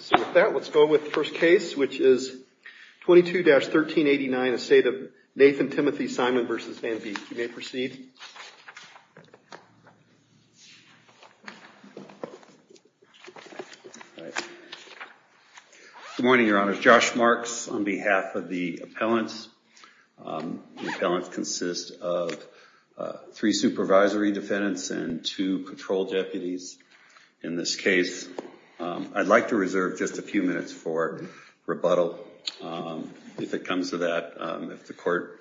So with that, let's go with the first case, which is 22-1389, a state of Nathan Timothy Simon v. Van Beek. You may proceed. Good morning, your honor. Josh Marks on behalf of the appellant. The appellant consists of three supervisory defendants and two patrol deputies. In this case, I'd like to reserve just a few minutes for rebuttal. If it comes to that, if the court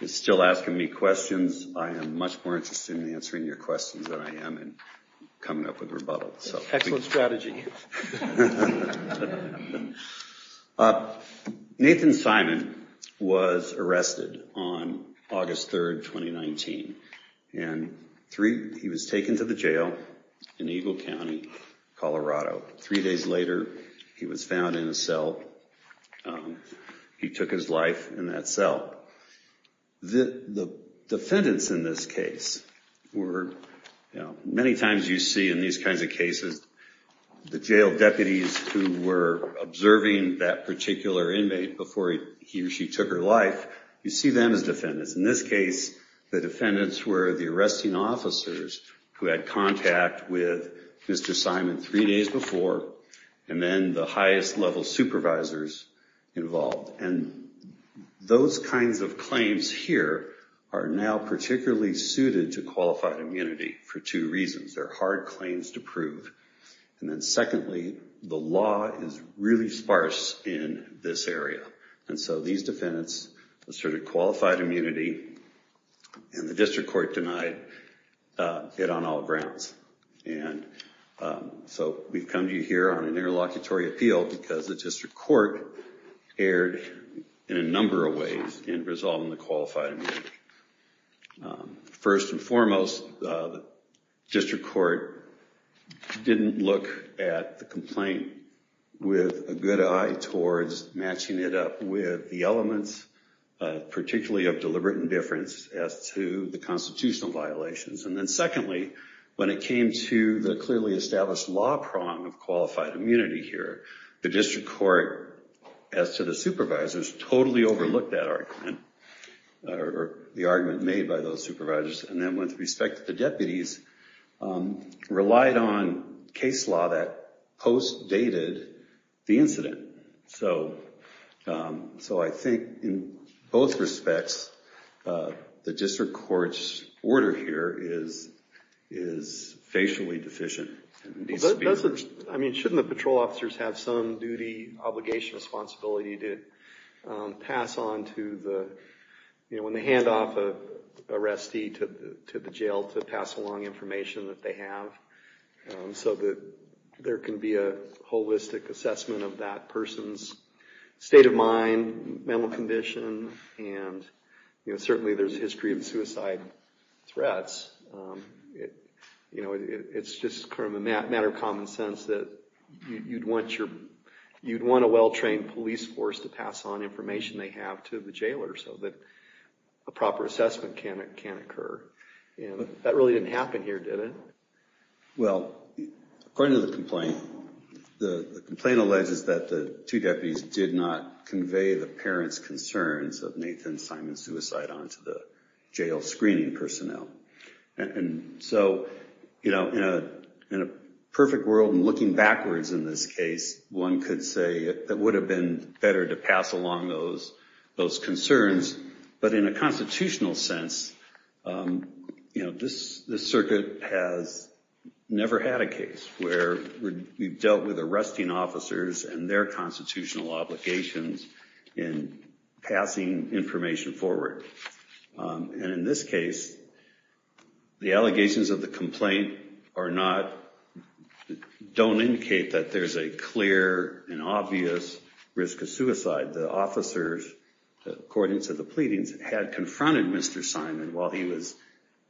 is still asking me questions, I am much more interested in answering your questions than I am in coming up with rebuttals. Excellent strategy. Nathan Simon was arrested on August 3rd, 2019, and three, he was taken to the jail in Eagle County, Colorado. Three days later, he was found in a cell. He took his life in that cell. The defendants in this case were, many times you see in these kinds of cases, the jail deputies who were observing that particular inmate before he or she took her life, you see them as defendants. In this case, the defendants were the arresting officers who had contact with Mr. Simon three days before, and then the highest level supervisors involved. And those kinds of claims here are now particularly suited to qualified immunity for two reasons. They're hard claims to prove. And then secondly, the law is really sparse in this area. And so these defendants asserted qualified immunity, and the district court denied it on all grounds. And so we've come to you here on an interlocutory appeal because the district court erred in a number of ways in resolving the qualified immunity. First and foremost, the district court didn't look at the complaint with a good eye towards matching it up with the elements, particularly of deliberate indifference, as to the constitutional violations. And then secondly, when it came to the clearly established law prong of qualified immunity here, the district court, as to the supervisors, totally overlooked that argument or the argument made by those supervisors. And then with respect to the deputies, relied on case law that post-dated the incident. So I think in both respects, the district court's order here is facially deficient. These speakers- I mean, shouldn't the patrol officers have some duty, obligation, responsibility to pass on to the, when they hand off a arrestee to the jail, to pass along information that they have so that there can be a holistic assessment of that person's state of mind, mental condition, and certainly there's a history of suicide threats. It's just a matter of common sense that you'd want a well-trained police force to pass on information they have to the jailer so that a proper assessment can occur. And that really didn't happen here, did it? Well, according to the complaint, the complaint alleges that the two deputies did not convey the parents' concerns of Nathan Simon's suicide onto the jail screening personnel. And so, in a perfect world and looking backwards in this case, one could say it would have been better to pass along those concerns. But in a constitutional sense, this circuit has never had a case where we've dealt with arresting officers and their constitutional obligations in passing information forward. And in this case, the allegations of the complaint are not, don't indicate that there's a clear and obvious risk of suicide. The officers, according to the pleadings, had confronted Mr. Simon while he was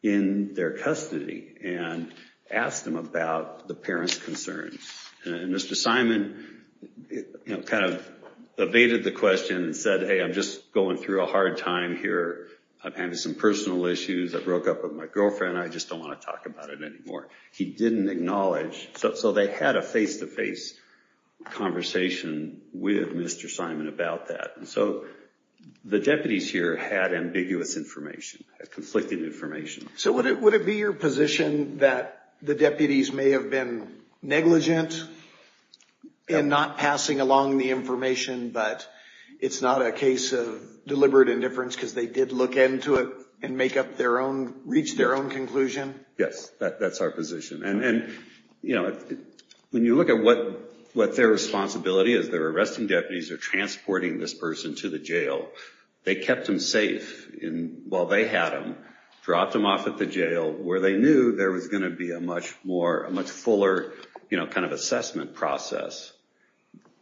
in their custody and asked him about the parents' concerns. And Mr. Simon kind of evaded the question and said, hey, I'm just going through a hard time here. I'm having some personal issues. I broke up with my girlfriend. I just don't want to talk about it anymore. He didn't acknowledge, so they had a face to face conversation with Mr. Simon about that. So the deputies here had ambiguous information, conflicting information. So would it be your position that the deputies may have been negligent in not passing along the information, but it's not a case of deliberate indifference because they did look into it and make up their own, reach their own conclusion? Yes, that's our position. And when you look at what their responsibility is, they're arresting deputies, they're transporting this person to the jail. They kept him safe while they had him, dropped him off at the jail, where they knew there was going to be a much fuller kind of assessment process.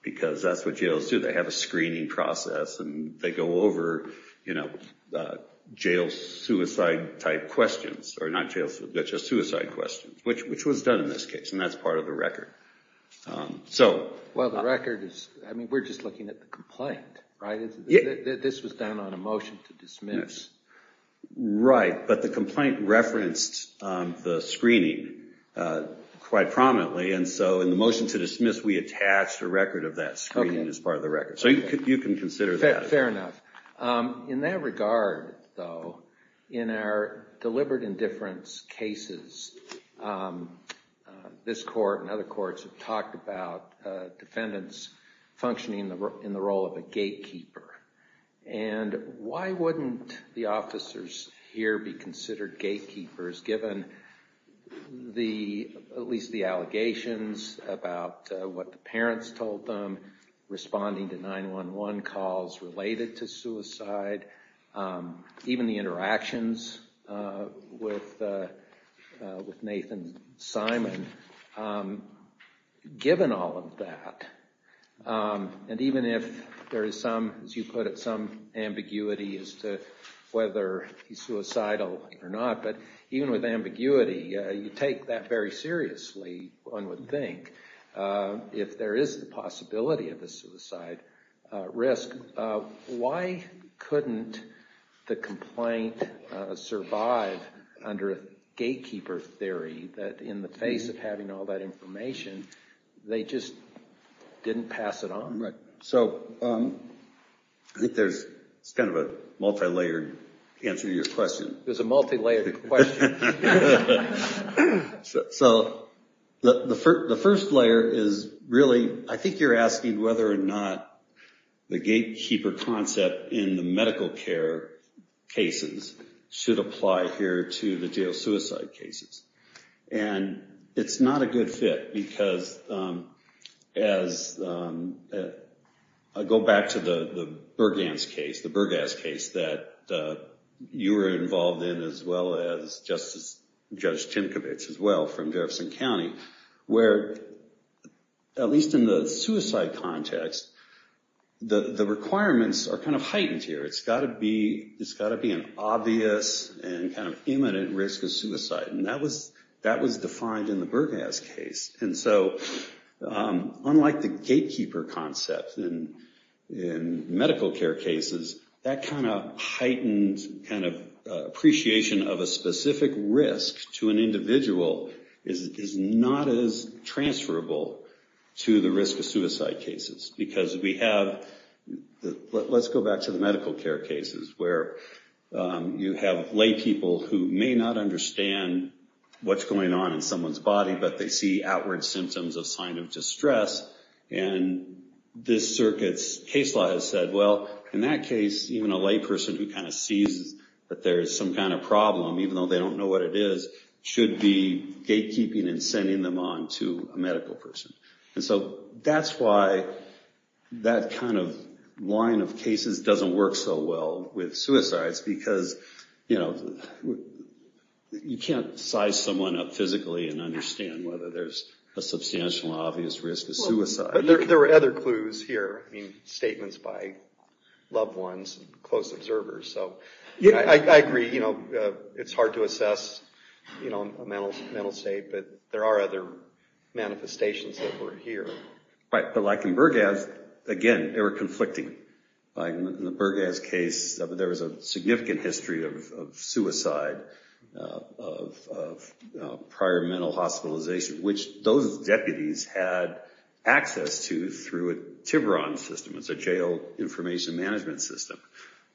Because that's what jails do, they have a screening process and they go over jail suicide type questions, or not jails, but just suicide questions, which was done in this case. And that's part of the record. So. Well, the record is, I mean, we're just looking at the complaint, right? This was done on a motion to dismiss. Right, but the complaint referenced the screening quite prominently. And so in the motion to dismiss, we attached a record of that screening as part of the record. So you can consider that. Fair enough. In that regard, though, in our deliberate indifference cases, this court and other courts have talked about defendants functioning in the role of a gatekeeper. And why wouldn't the officers here be considered gatekeepers, given at least the allegations about what the parents told them, responding to 911 calls related to suicide, even the interactions with Nathan Simon. Given all of that, and even if there is some, as you put it, some ambiguity as to whether he's suicidal or not. But even with ambiguity, you take that very seriously, one would think, if there is the possibility of a suicide risk, why couldn't the complaint survive under a gatekeeper theory that in the face of having all that information, they just didn't pass it on? Right, so I think there's kind of a multi-layered answer to your question. It was a multi-layered question. So, the first layer is really, I think you're asking whether or not the gatekeeper concept in the medical care cases should apply here to the jail suicide cases. And it's not a good fit, because as I go back to the Burgas case that you were involved in, as well as Justice, Judge Tinkovich as well from Jefferson County, where at least in the suicide context, the requirements are kind of heightened here. It's gotta be an obvious and kind of imminent risk of suicide. And that was defined in the Burgas case. And so, unlike the gatekeeper concept in medical care cases, that kind of heightened kind of appreciation of a specific risk to an individual is not as transferable to the risk of suicide cases. Because we have, let's go back to the medical care cases, where you have lay people who may not understand what's going on in someone's body, but they see outward symptoms of sign of distress. And this circuit's case law has said, well, in that case, even a lay person who kind of sees that there's some kind of problem, even though they don't know what it is, should be gatekeeping and sending them on to a medical person. And so, that's why that kind of line of cases doesn't work so well with suicides, because you can't size someone up physically and understand whether there's a substantial obvious risk of suicide. But there were other clues here. I mean, statements by loved ones and close observers. So, I agree, it's hard to assess a mental state, but there are other manifestations that were here. Right, but like in Burgas, again, they were conflicting. Like in the Burgas case, there was a significant history of suicide, of prior mental hospitalization, which those deputies had access to through a Tiburon system. It's a jail information management system.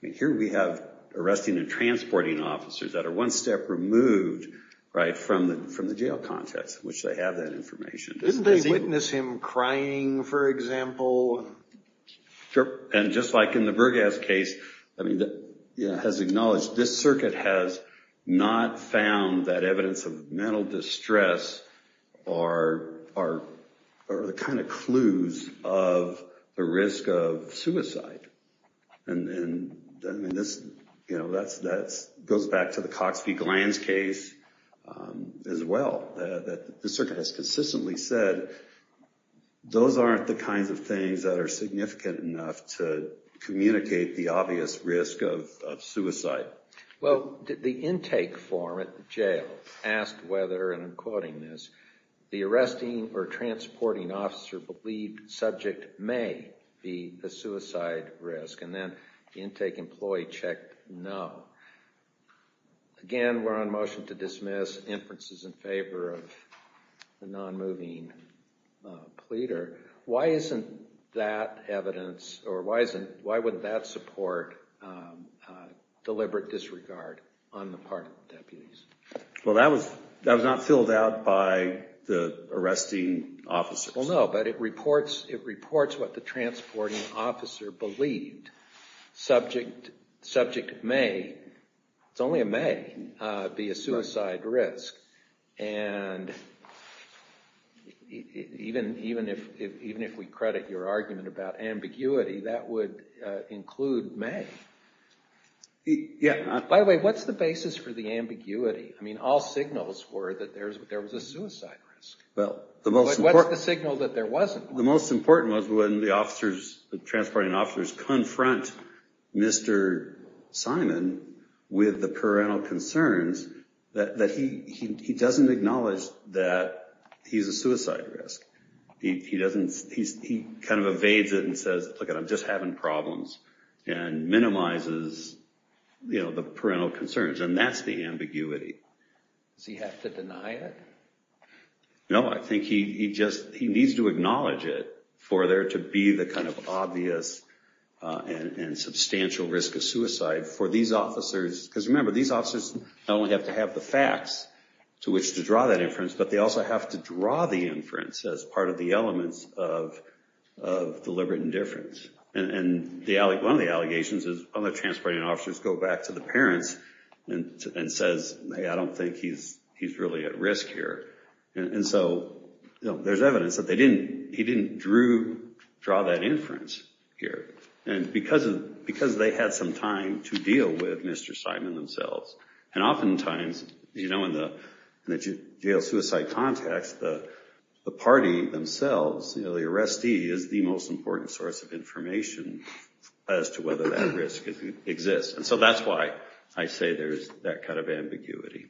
I mean, here we have arresting and transporting officers that are one step removed, right, from the jail context, which they have that information. Didn't they witness him crying, for example? Sure, and just like in the Burgas case, I mean, it has acknowledged, this circuit has not found that evidence of mental distress are the kind of clues of the risk of suicide. And then, I mean, that goes back to the Coxby-Glanz case as well. The circuit has consistently said those aren't the kinds of things that are significant enough to communicate the obvious risk of suicide. Well, the intake form at the jail asked whether, and I'm quoting this, the arresting or transporting officer believed subject may be a suicide risk, and then the intake employee checked no. Again, we're on motion to dismiss inferences in favor of the non-moving pleader. Why isn't that evidence, or why wouldn't that support deliberate disregard on the part of the deputies? Well, that was not filled out by the arresting officers. Well, no, but it reports what the transporting officer believed subject may, it's only a may, be a suicide risk. And even if we credit your argument about ambiguity, that would include may. By the way, what's the basis for the ambiguity? I mean, all signals were that there was a suicide risk. But what's the signal that there wasn't one? The most important was when the officers, the transporting officers confront Mr. Simon with the parental concerns, that he doesn't acknowledge that he's a suicide risk, he kind of evades it and says, look it, I'm just having problems, and minimizes the parental concerns, and that's the ambiguity. Does he have to deny it? No, I think he just, he needs to acknowledge it for there to be the kind of obvious and substantial risk of suicide for these officers, because remember, these officers not only have to have but they also have to draw the inference as part of the elements of deliberate indifference. And one of the allegations is other transporting officers go back to the parents and says, hey, I don't think he's really at risk here. And so there's evidence that he didn't draw that inference here, and because they had some time to deal with Mr. Simon themselves. And oftentimes, in the jail suicide context, the party themselves, the arrestee, is the most important source of information as to whether that risk exists. And so that's why I say there's that kind of ambiguity.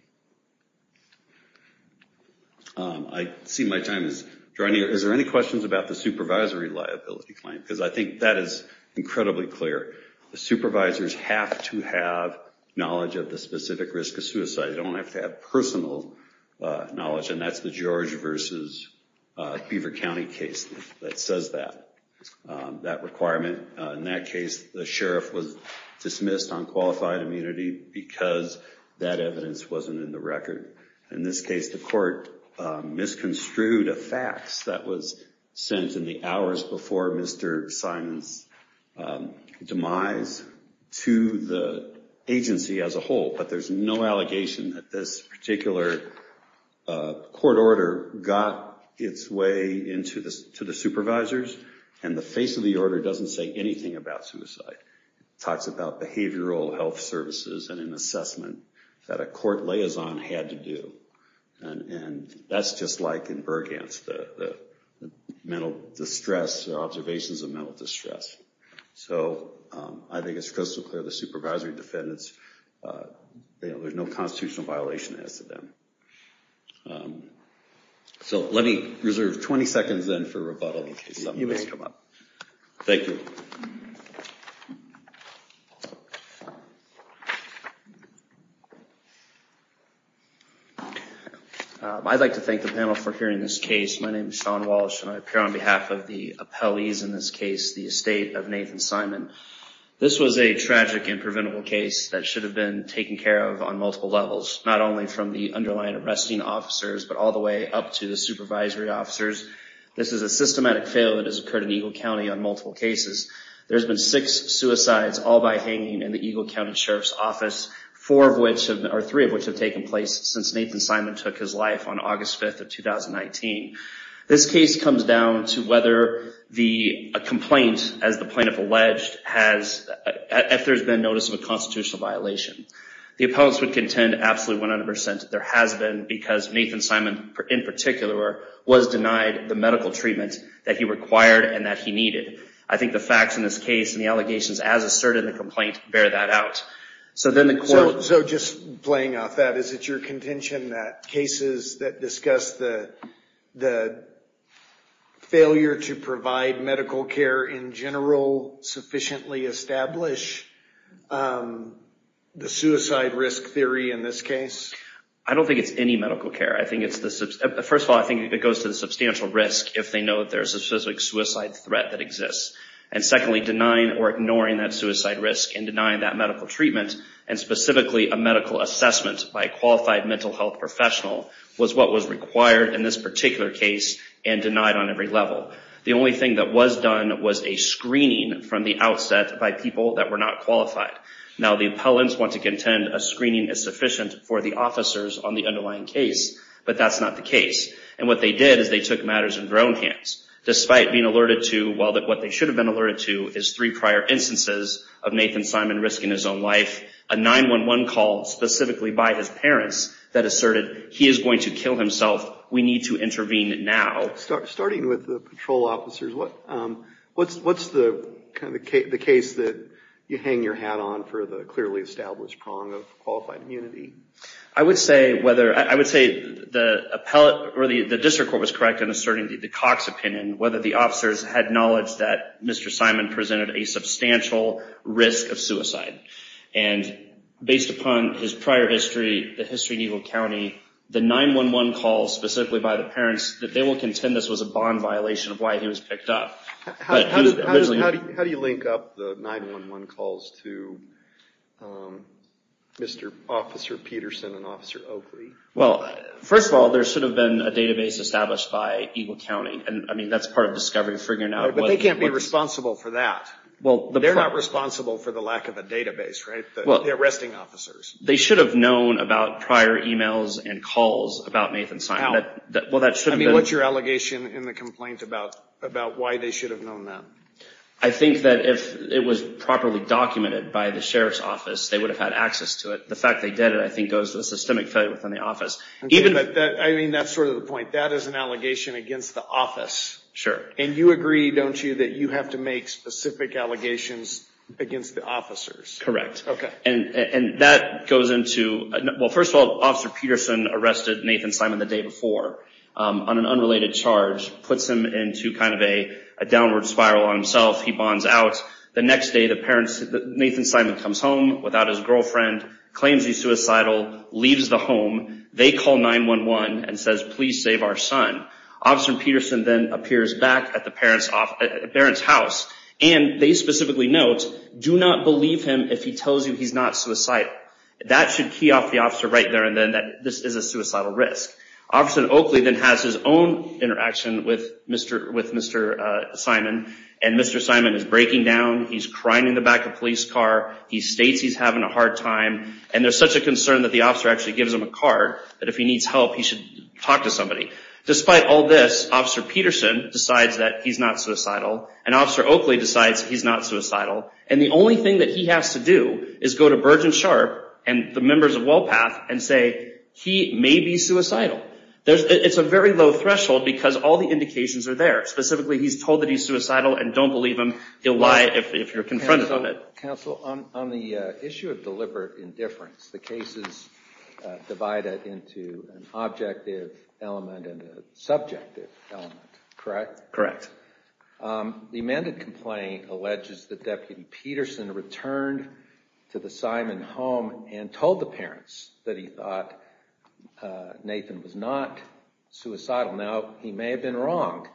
I see my time is drawing near. Is there any questions about the supervisory liability claim, because I think that is incredibly clear. The supervisors have to have knowledge of the specific risk of suicide. They don't have to have personal knowledge, and that's the George versus Beaver County case that says that, that requirement. In that case, the sheriff was dismissed on qualified immunity because that evidence wasn't in the record. In this case, the court misconstrued a fax that was sent in the hours before Mr. Simon's demise to the agency as a whole, but there's no allegation that this particular court order got its way into the supervisors, and the face of the order doesn't say anything about suicide. Talks about behavioral health services and an assessment that a court liaison had to do. And that's just like in Burghanst, the mental distress, the observations of mental distress. So I think it's crystal clear, the supervisory defendants, there's no constitutional violation as to them. So let me reserve 20 seconds then for rebuttal. You may come up. Thank you. I'd like to thank the panel for hearing this case. My name is Sean Walsh, and I appear on behalf of the appellees in this case, the estate of Nathan Simon. This was a tragic and preventable case that should have been taken care of on multiple levels, not only from the underlying arresting officers, but all the way up to the supervisory officers. This is a systematic fail that has occurred in Eagle County on multiple cases. There's been six suicides all by hanging in the Eagle County Sheriff's Office, four of which, or three of which have taken place since Nathan Simon took his life on August 5th of 2019. This case comes down to whether a complaint, as the plaintiff alleged, has, if there's been notice of a constitutional violation. The appellants would contend absolutely 100% there has been, because Nathan Simon, in particular, was denied the medical treatment that he required and that he needed. I think the facts in this case and the allegations as asserted in the complaint bear that out. So then the quote. So just playing off that, is it your contention that cases that discuss the failure to provide medical care in general sufficiently establish the suicide risk theory in this case? I don't think it's any medical care. I think it's the, first of all, I think it goes to the substantial risk if they know that there's a specific suicide threat that exists. And secondly, denying or ignoring that suicide risk and denying that medical treatment, and specifically a medical assessment by a qualified mental health professional was what was required in this particular case and denied on every level. The only thing that was done was a screening from the outset by people that were not qualified. Now the appellants want to contend a screening is sufficient for the officers on the underlying case, but that's not the case. And what they did is they took matters in their own hands. Despite being alerted to, well, what they should have been alerted to is three prior instances of Nathan Simon risking his own life. A 911 call specifically by his parents that asserted he is going to kill himself. We need to intervene now. Starting with the patrol officers, what's the kind of the case that you hang your hat on for the clearly established prong of qualified immunity? I would say whether, I would say the appellate or the district court was correct in asserting the Cox opinion, whether the officers had knowledge that Mr. Simon presented a substantial risk of suicide. And based upon his prior history, the history in Eagle County, the 911 calls specifically by the parents that they will contend this was a bond violation of why he was picked up. How do you link up the 911 calls to Mr. Officer Peterson and Officer Oakley? Well, first of all, there should have been a database established by Eagle County. And I mean, that's part of discovering, figuring out. But they can't be responsible for that. Well, they're not responsible for the lack of a database, right? The arresting officers. They should have known about prior emails and calls about Nathan Simon. Well, that should have been. I mean, what's your allegation in the complaint about why they should have known that? I think that if it was properly documented by the sheriff's office, they would have had access to it. The fact they did it, I think goes to the systemic failure within the office. I mean, that's sort of the point. That is an allegation against the office. Sure. And you agree, don't you, that you have to make specific allegations against the officers? Correct. Okay. And that goes into, well, first of all, Officer Peterson arrested Nathan Simon the day before on an unrelated charge, puts him into kind of a downward spiral on himself. He bonds out. The next day, Nathan Simon comes home without his girlfriend, claims he's suicidal, leaves the home. They call 911 and says, please save our son. Officer Peterson then appears back at the parent's house. And they specifically note, do not believe him if he tells you he's not suicidal. That should key off the officer right there and then that this is a suicidal risk. Officer Oakley then has his own interaction with Mr. Simon. And Mr. Simon is breaking down. He's crying in the back of a police car. He states he's having a hard time. And there's such a concern that the officer actually gives him a card that if he needs help, he should talk to somebody. Despite all this, Officer Peterson decides that he's not suicidal. And Officer Oakley decides he's not suicidal. And the only thing that he has to do is go to Burgeon Sharp and the members of WellPath and say he may be suicidal. It's a very low threshold because all the indications are there. Specifically, he's told that he's suicidal and don't believe him. He'll lie if you're confronted on it. Counsel, on the issue of deliberate indifference, the case is divided into an objective element and a subjective element, correct? Correct. The amended complaint alleges that Deputy Peterson returned to the Simon home and told the parents that he thought Nathan was not suicidal. Now, he may have been wrong,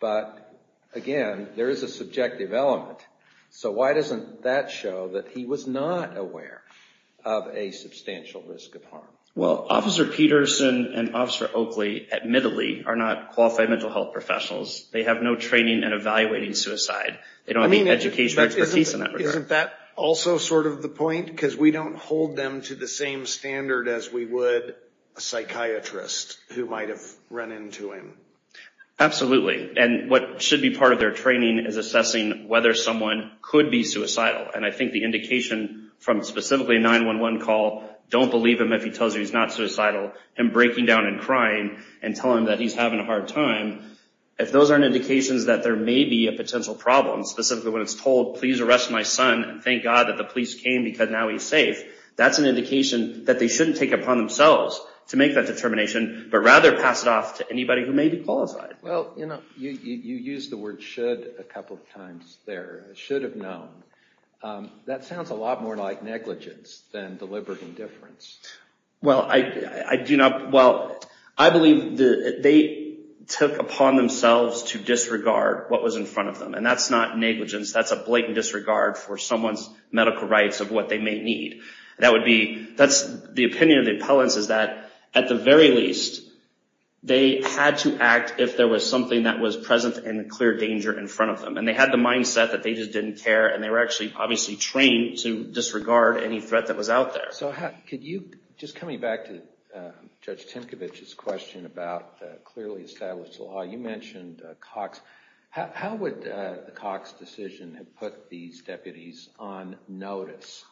but again, there is a subjective element. So why doesn't that show that he was not aware of a substantial risk of harm? Well, Officer Peterson and Officer Oakley, admittedly, are not qualified mental health professionals. They have no training in evaluating suicide. They don't have any educational expertise in that regard. Isn't that also sort of the point? Because we don't hold them to the same standard as we would a psychiatrist who might have run into him. Absolutely. And what should be part of their training is assessing whether someone could be suicidal. And I think the indication from specifically a 911 call, don't believe him if he tells you he's not suicidal, him breaking down and crying and telling him that he's having a hard time, if those aren't indications that there may be a potential problem, specifically when it's told, please arrest my son and thank God that the police came because now he's safe, that's an indication that they shouldn't take upon themselves to make that determination, but rather pass it off to anybody who may be qualified. Well, you know, you used the word should a couple of times there, should have known. That sounds a lot more like negligence than deliberate indifference. Well, I do not, well, I believe they took upon themselves to disregard what was in front of them. And that's not negligence, that's a blatant disregard for someone's medical rights of what they may need. That would be, that's the opinion of the appellants is that at the very least, they had to act if there was something that was present and clear danger in front of them. And they had the mindset that they just didn't care and they were actually obviously trained to disregard any threat that was out there. So how, could you, just coming back to Judge Tinkovich's question about clearly established law, you mentioned Cox, how would the Cox decision have put these deputies on notice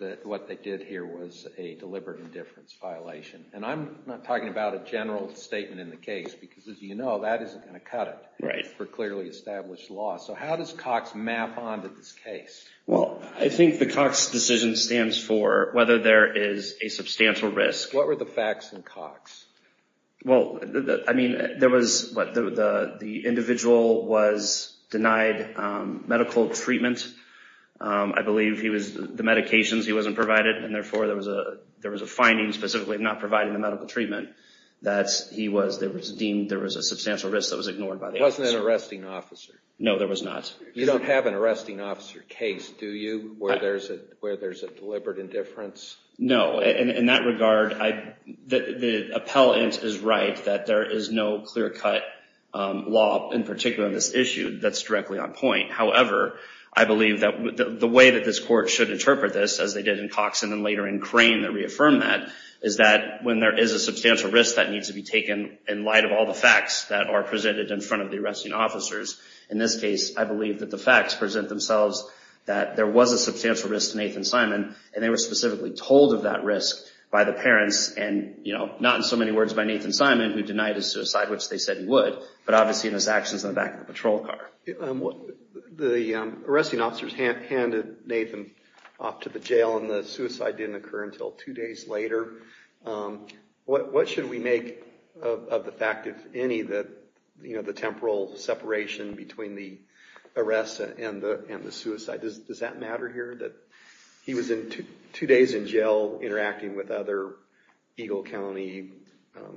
that what they did here was a deliberate indifference violation? And I'm not talking about a general statement in the case because as you know, that isn't gonna cut it for clearly established law. So how does Cox map onto this case? Well, I think the Cox decision stands for whether there is a substantial risk. What were the facts in Cox? Well, I mean, there was, what, the individual was denied medical treatment. I believe he was, the medications he wasn't provided and therefore there was a finding specifically of not providing the medical treatment that he was, it was deemed there was a substantial risk that was ignored by the officer. Wasn't it an arresting officer? No, there was not. You don't have an arresting officer case, do you? Where there's a deliberate indifference? No, in that regard, the appellant is right that there is no clear-cut law, in particular in this issue, that's directly on point. However, I believe that the way that this court should interpret this, as they did in Cox and then later in Crane that reaffirmed that, is that when there is a substantial risk that needs to be taken in light of all the facts that are presented in front of the arresting officers. In this case, I believe that the facts present themselves that there was a substantial risk to Nathan Simon and they were specifically told of that risk by the parents and not in so many words by Nathan Simon, who denied his suicide, which they said he would, but obviously in his actions in the back of the patrol car. The arresting officers handed Nathan off to the jail and the suicide didn't occur until two days later. What should we make of the fact, if any, that the temporal separation between the arrest and the suicide, does that matter here, that he was in two days in jail interacting with other Eagle County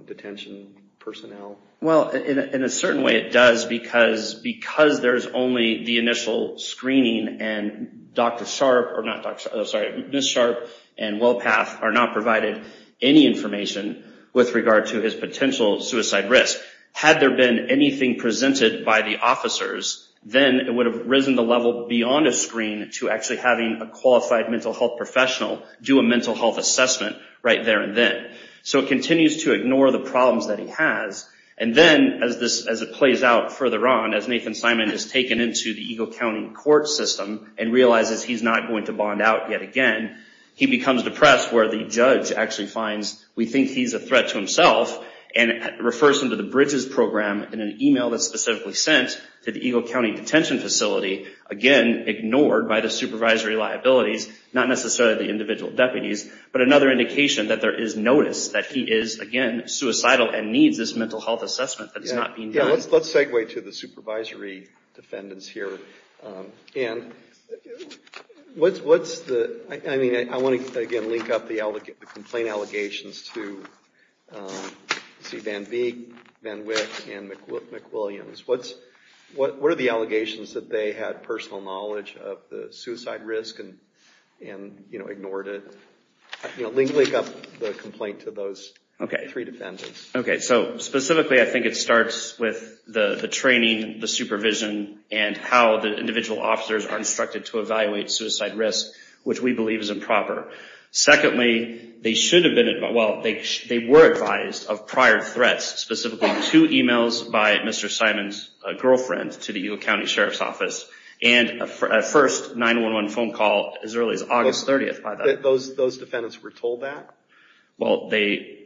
detention personnel? Well, in a certain way it does, because there's only the initial screening and Ms. Sharp and Wellpath are not provided any information with regard to his potential suicide risk. Had there been anything presented by the officers, then it would have risen the level beyond a screen to actually having a qualified mental health professional do a mental health assessment right there and then. So it continues to ignore the problems that he has and then as it plays out further on, as Nathan Simon is taken into the Eagle County court system and realizes he's not going to bond out yet again, he becomes depressed where the judge actually finds, we think he's a threat to himself and refers him to the Bridges Program in an email that's specifically sent to the Eagle County detention facility, again, ignored by the supervisory liabilities, not necessarily the individual deputies, but another indication that there is notice that he is, again, suicidal and needs this mental health assessment that is not being done. Let's segue to the supervisory defendants here. And what's the, I mean, I want to, again, link up the complaint allegations to C. Van Veek, Van Wick, and McWilliams. What are the allegations that they had personal knowledge of the suicide risk and ignored it? Link up the complaint to those three defendants. Okay, so specifically, I think it starts with the training, the supervision, and how the individual officers are instructed to evaluate suicide risk, which we believe is improper. Secondly, they should have been, well, they were advised of prior threats, specifically two emails by Mr. Simon's girlfriend to the Eagle County Sheriff's Office and a first 911 phone call as early as August 30th. Those defendants were told that? Well, they,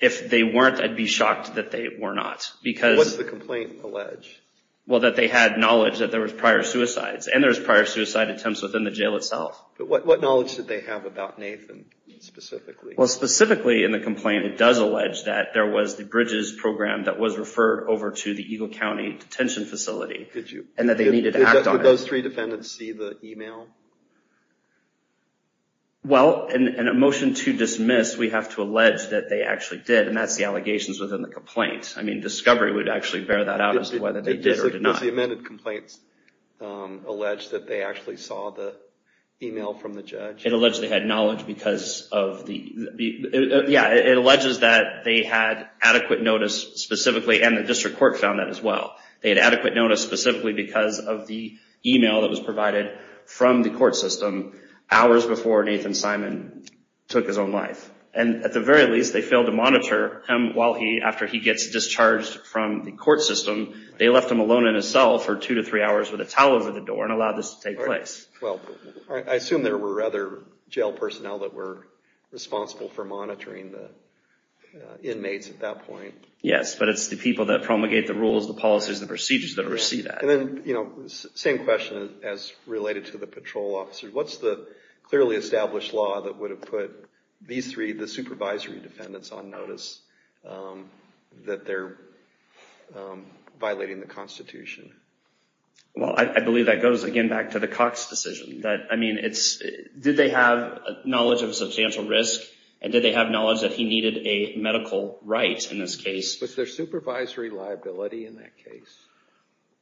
if they weren't, I'd be shocked that they were not. Because- What does the complaint allege? Well, that they had knowledge that there was prior suicides and there was prior suicide attempts within the jail itself. But what knowledge did they have about Nathan specifically? Well, specifically in the complaint, it does allege that there was the Bridges program that was referred over to the Eagle County detention facility. And that they needed to act on it. Did those three defendants see the email? Well, in a motion to dismiss, we have to allege that they actually did, and that's the allegations within the complaint. I mean, discovery would actually bear that out as to whether they did or did not. Does the amended complaint allege that they actually saw the email from the judge? It alleges they had knowledge because of the, yeah, it alleges that they had adequate notice specifically, and the district court found that as well. They had adequate notice specifically because of the email that was provided from the court system, hours before Nathan Simon took his own life. And at the very least, they failed to monitor him while he, after he gets discharged from the court system. They left him alone in a cell for two to three hours with a towel over the door and allowed this to take place. Well, I assume there were other jail personnel that were responsible for monitoring the inmates at that point. Yes, but it's the people that promulgate the rules, the policies, the procedures that oversee that. And then, you know, same question as related to the patrol officers. What's the clearly established law that would have put these three, the supervisory defendants, on notice that they're violating the Constitution? Well, I believe that goes, again, back to the Cox decision. I mean, did they have knowledge of substantial risk, and did they have knowledge that he needed a medical right in this case? Was there supervisory liability in that case?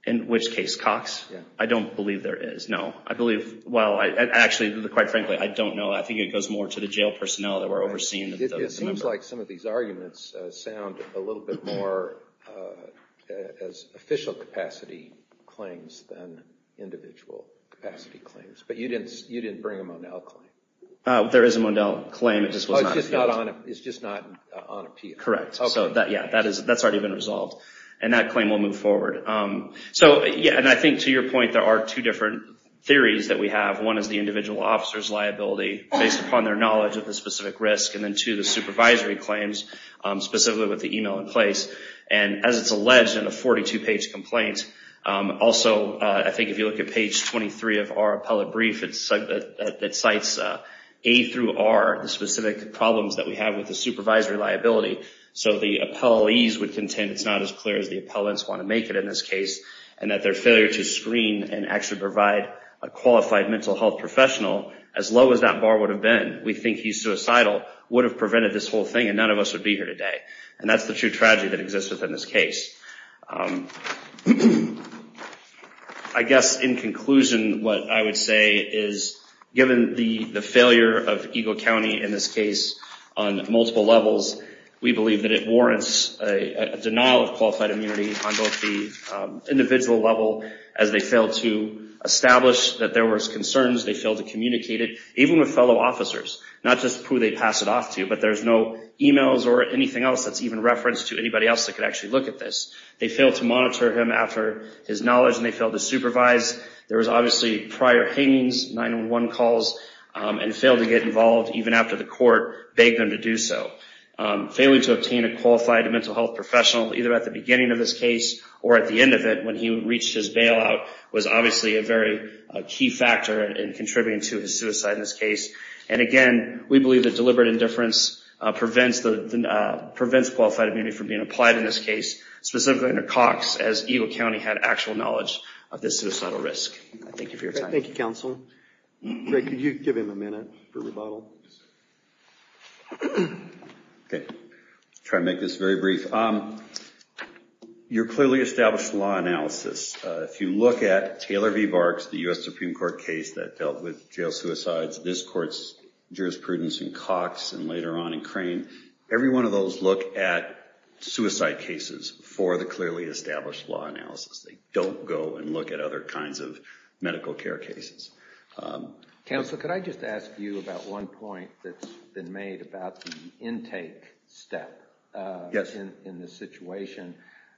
In which case, Cox? I don't believe there is, no. I believe, well, actually, quite frankly, I don't know. I think it goes more to the jail personnel that were overseeing the number. It seems like some of these arguments sound a little bit more as official capacity claims than individual capacity claims. But you didn't bring a Monell claim. There is a Monell claim, it just was not appealed. It's just not on appeal. Correct, so yeah, that's already been resolved. And that claim will move forward. So yeah, and I think to your point, there are two different theories that we have. One is the individual officer's liability based upon their knowledge of the specific risk, and then two, the supervisory claims, specifically with the email in place. And as it's alleged in a 42-page complaint, also, I think if you look at page 23 of our appellate brief, it cites A through R, the specific problems that we have with the supervisory liability. So the appellees would contend it's not as clear as the appellants want to make it in this case, and that their failure to screen and actually provide a qualified mental health professional, as low as that bar would have been, we think he's suicidal, would have prevented this whole thing and none of us would be here today. And that's the true tragedy that exists within this case. I guess in conclusion, what I would say is, given the failure of Eagle County in this case on multiple levels, we believe that it warrants a denial of qualified immunity on both the individual level as they failed to establish that there was concerns, they failed to communicate it, even with fellow officers. Not just who they pass it off to, but there's no emails or anything else that's even referenced to anybody else that could actually look at this. They failed to monitor him after his knowledge and they failed to supervise. There was obviously prior hangings, 911 calls, and failed to get involved even after the court begged them to do so. Failing to obtain a qualified mental health professional, either at the beginning of this case or at the end of it, when he reached his bailout, was obviously a very key factor in contributing to his suicide in this case. And again, we believe that deliberate indifference prevents qualified immunity from being applied in this case, specifically under Cox, as Eagle County had actual knowledge of this suicidal risk. Thank you for your time. Thank you, counsel. Greg, could you give him a minute for rebuttal? Yes, sir. OK, I'll try to make this very brief. Your clearly established law analysis, if you look at Taylor v. Barks, the US Supreme Court case that dealt with jail suicides, this court's jurisprudence in Cox and later on in Crane, every one of those look at suicide cases for the clearly established law analysis. They don't go and look at other kinds of medical care cases. Counsel, could I just ask you about one point that's been made about the intake step in this situation?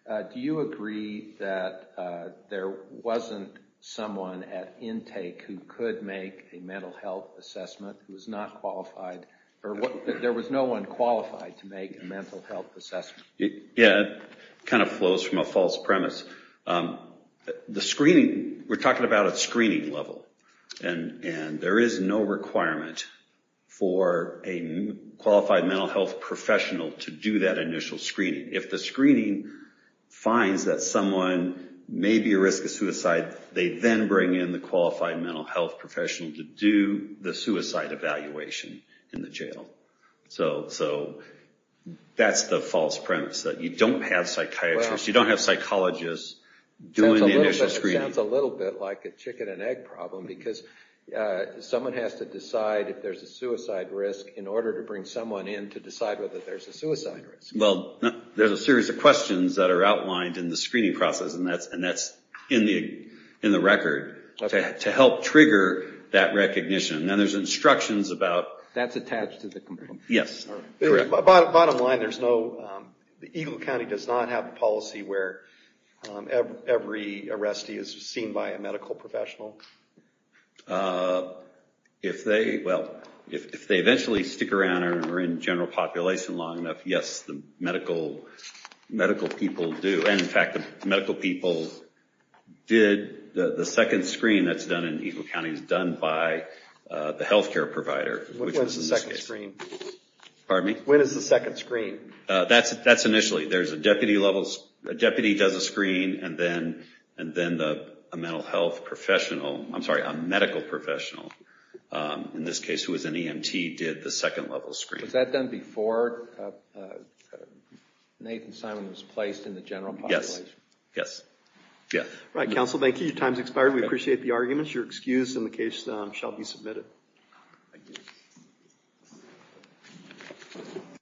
Do you agree that there wasn't someone at intake who could make a mental health assessment who was not qualified, or there was no one qualified to make a mental health assessment? Yeah, it kind of flows from a false premise. The screening, we're talking about a screening level. And there is no requirement for a qualified mental health professional to do that initial screening. If the screening finds that someone may be at risk of suicide, they then bring in the qualified mental health professional to do the suicide evaluation in the jail. So that's the false premise, that you don't have psychiatrists, you don't have psychologists doing the initial screening. It sounds a little bit like a chicken and egg problem, because someone has to decide if there's a suicide risk in order to bring someone in to decide whether there's a suicide risk. Well, there's a series of questions that are outlined in the screening process, and that's in the record, to help trigger that recognition. And there's instructions about- That's attached to the complaint? Yes, correct. Bottom line, Eagle County does not have a policy where every arrestee is seen by a medical professional? If they eventually stick around and are in general population long enough, yes, the medical people do. And in fact, the medical people did the second screen that's done in Eagle County is done by the health care provider, which is the second screen. Pardon me? When is the second screen? That's initially. There's a deputy level, a deputy does a screen, and then a medical professional, in this case, who is an EMT, did the second level screen. Was that done before Nathan Simon was placed in the general population? Yes. Right, counsel, thank you. Your time's expired. We appreciate the arguments. Your excuse in the case shall be submitted. Thank you.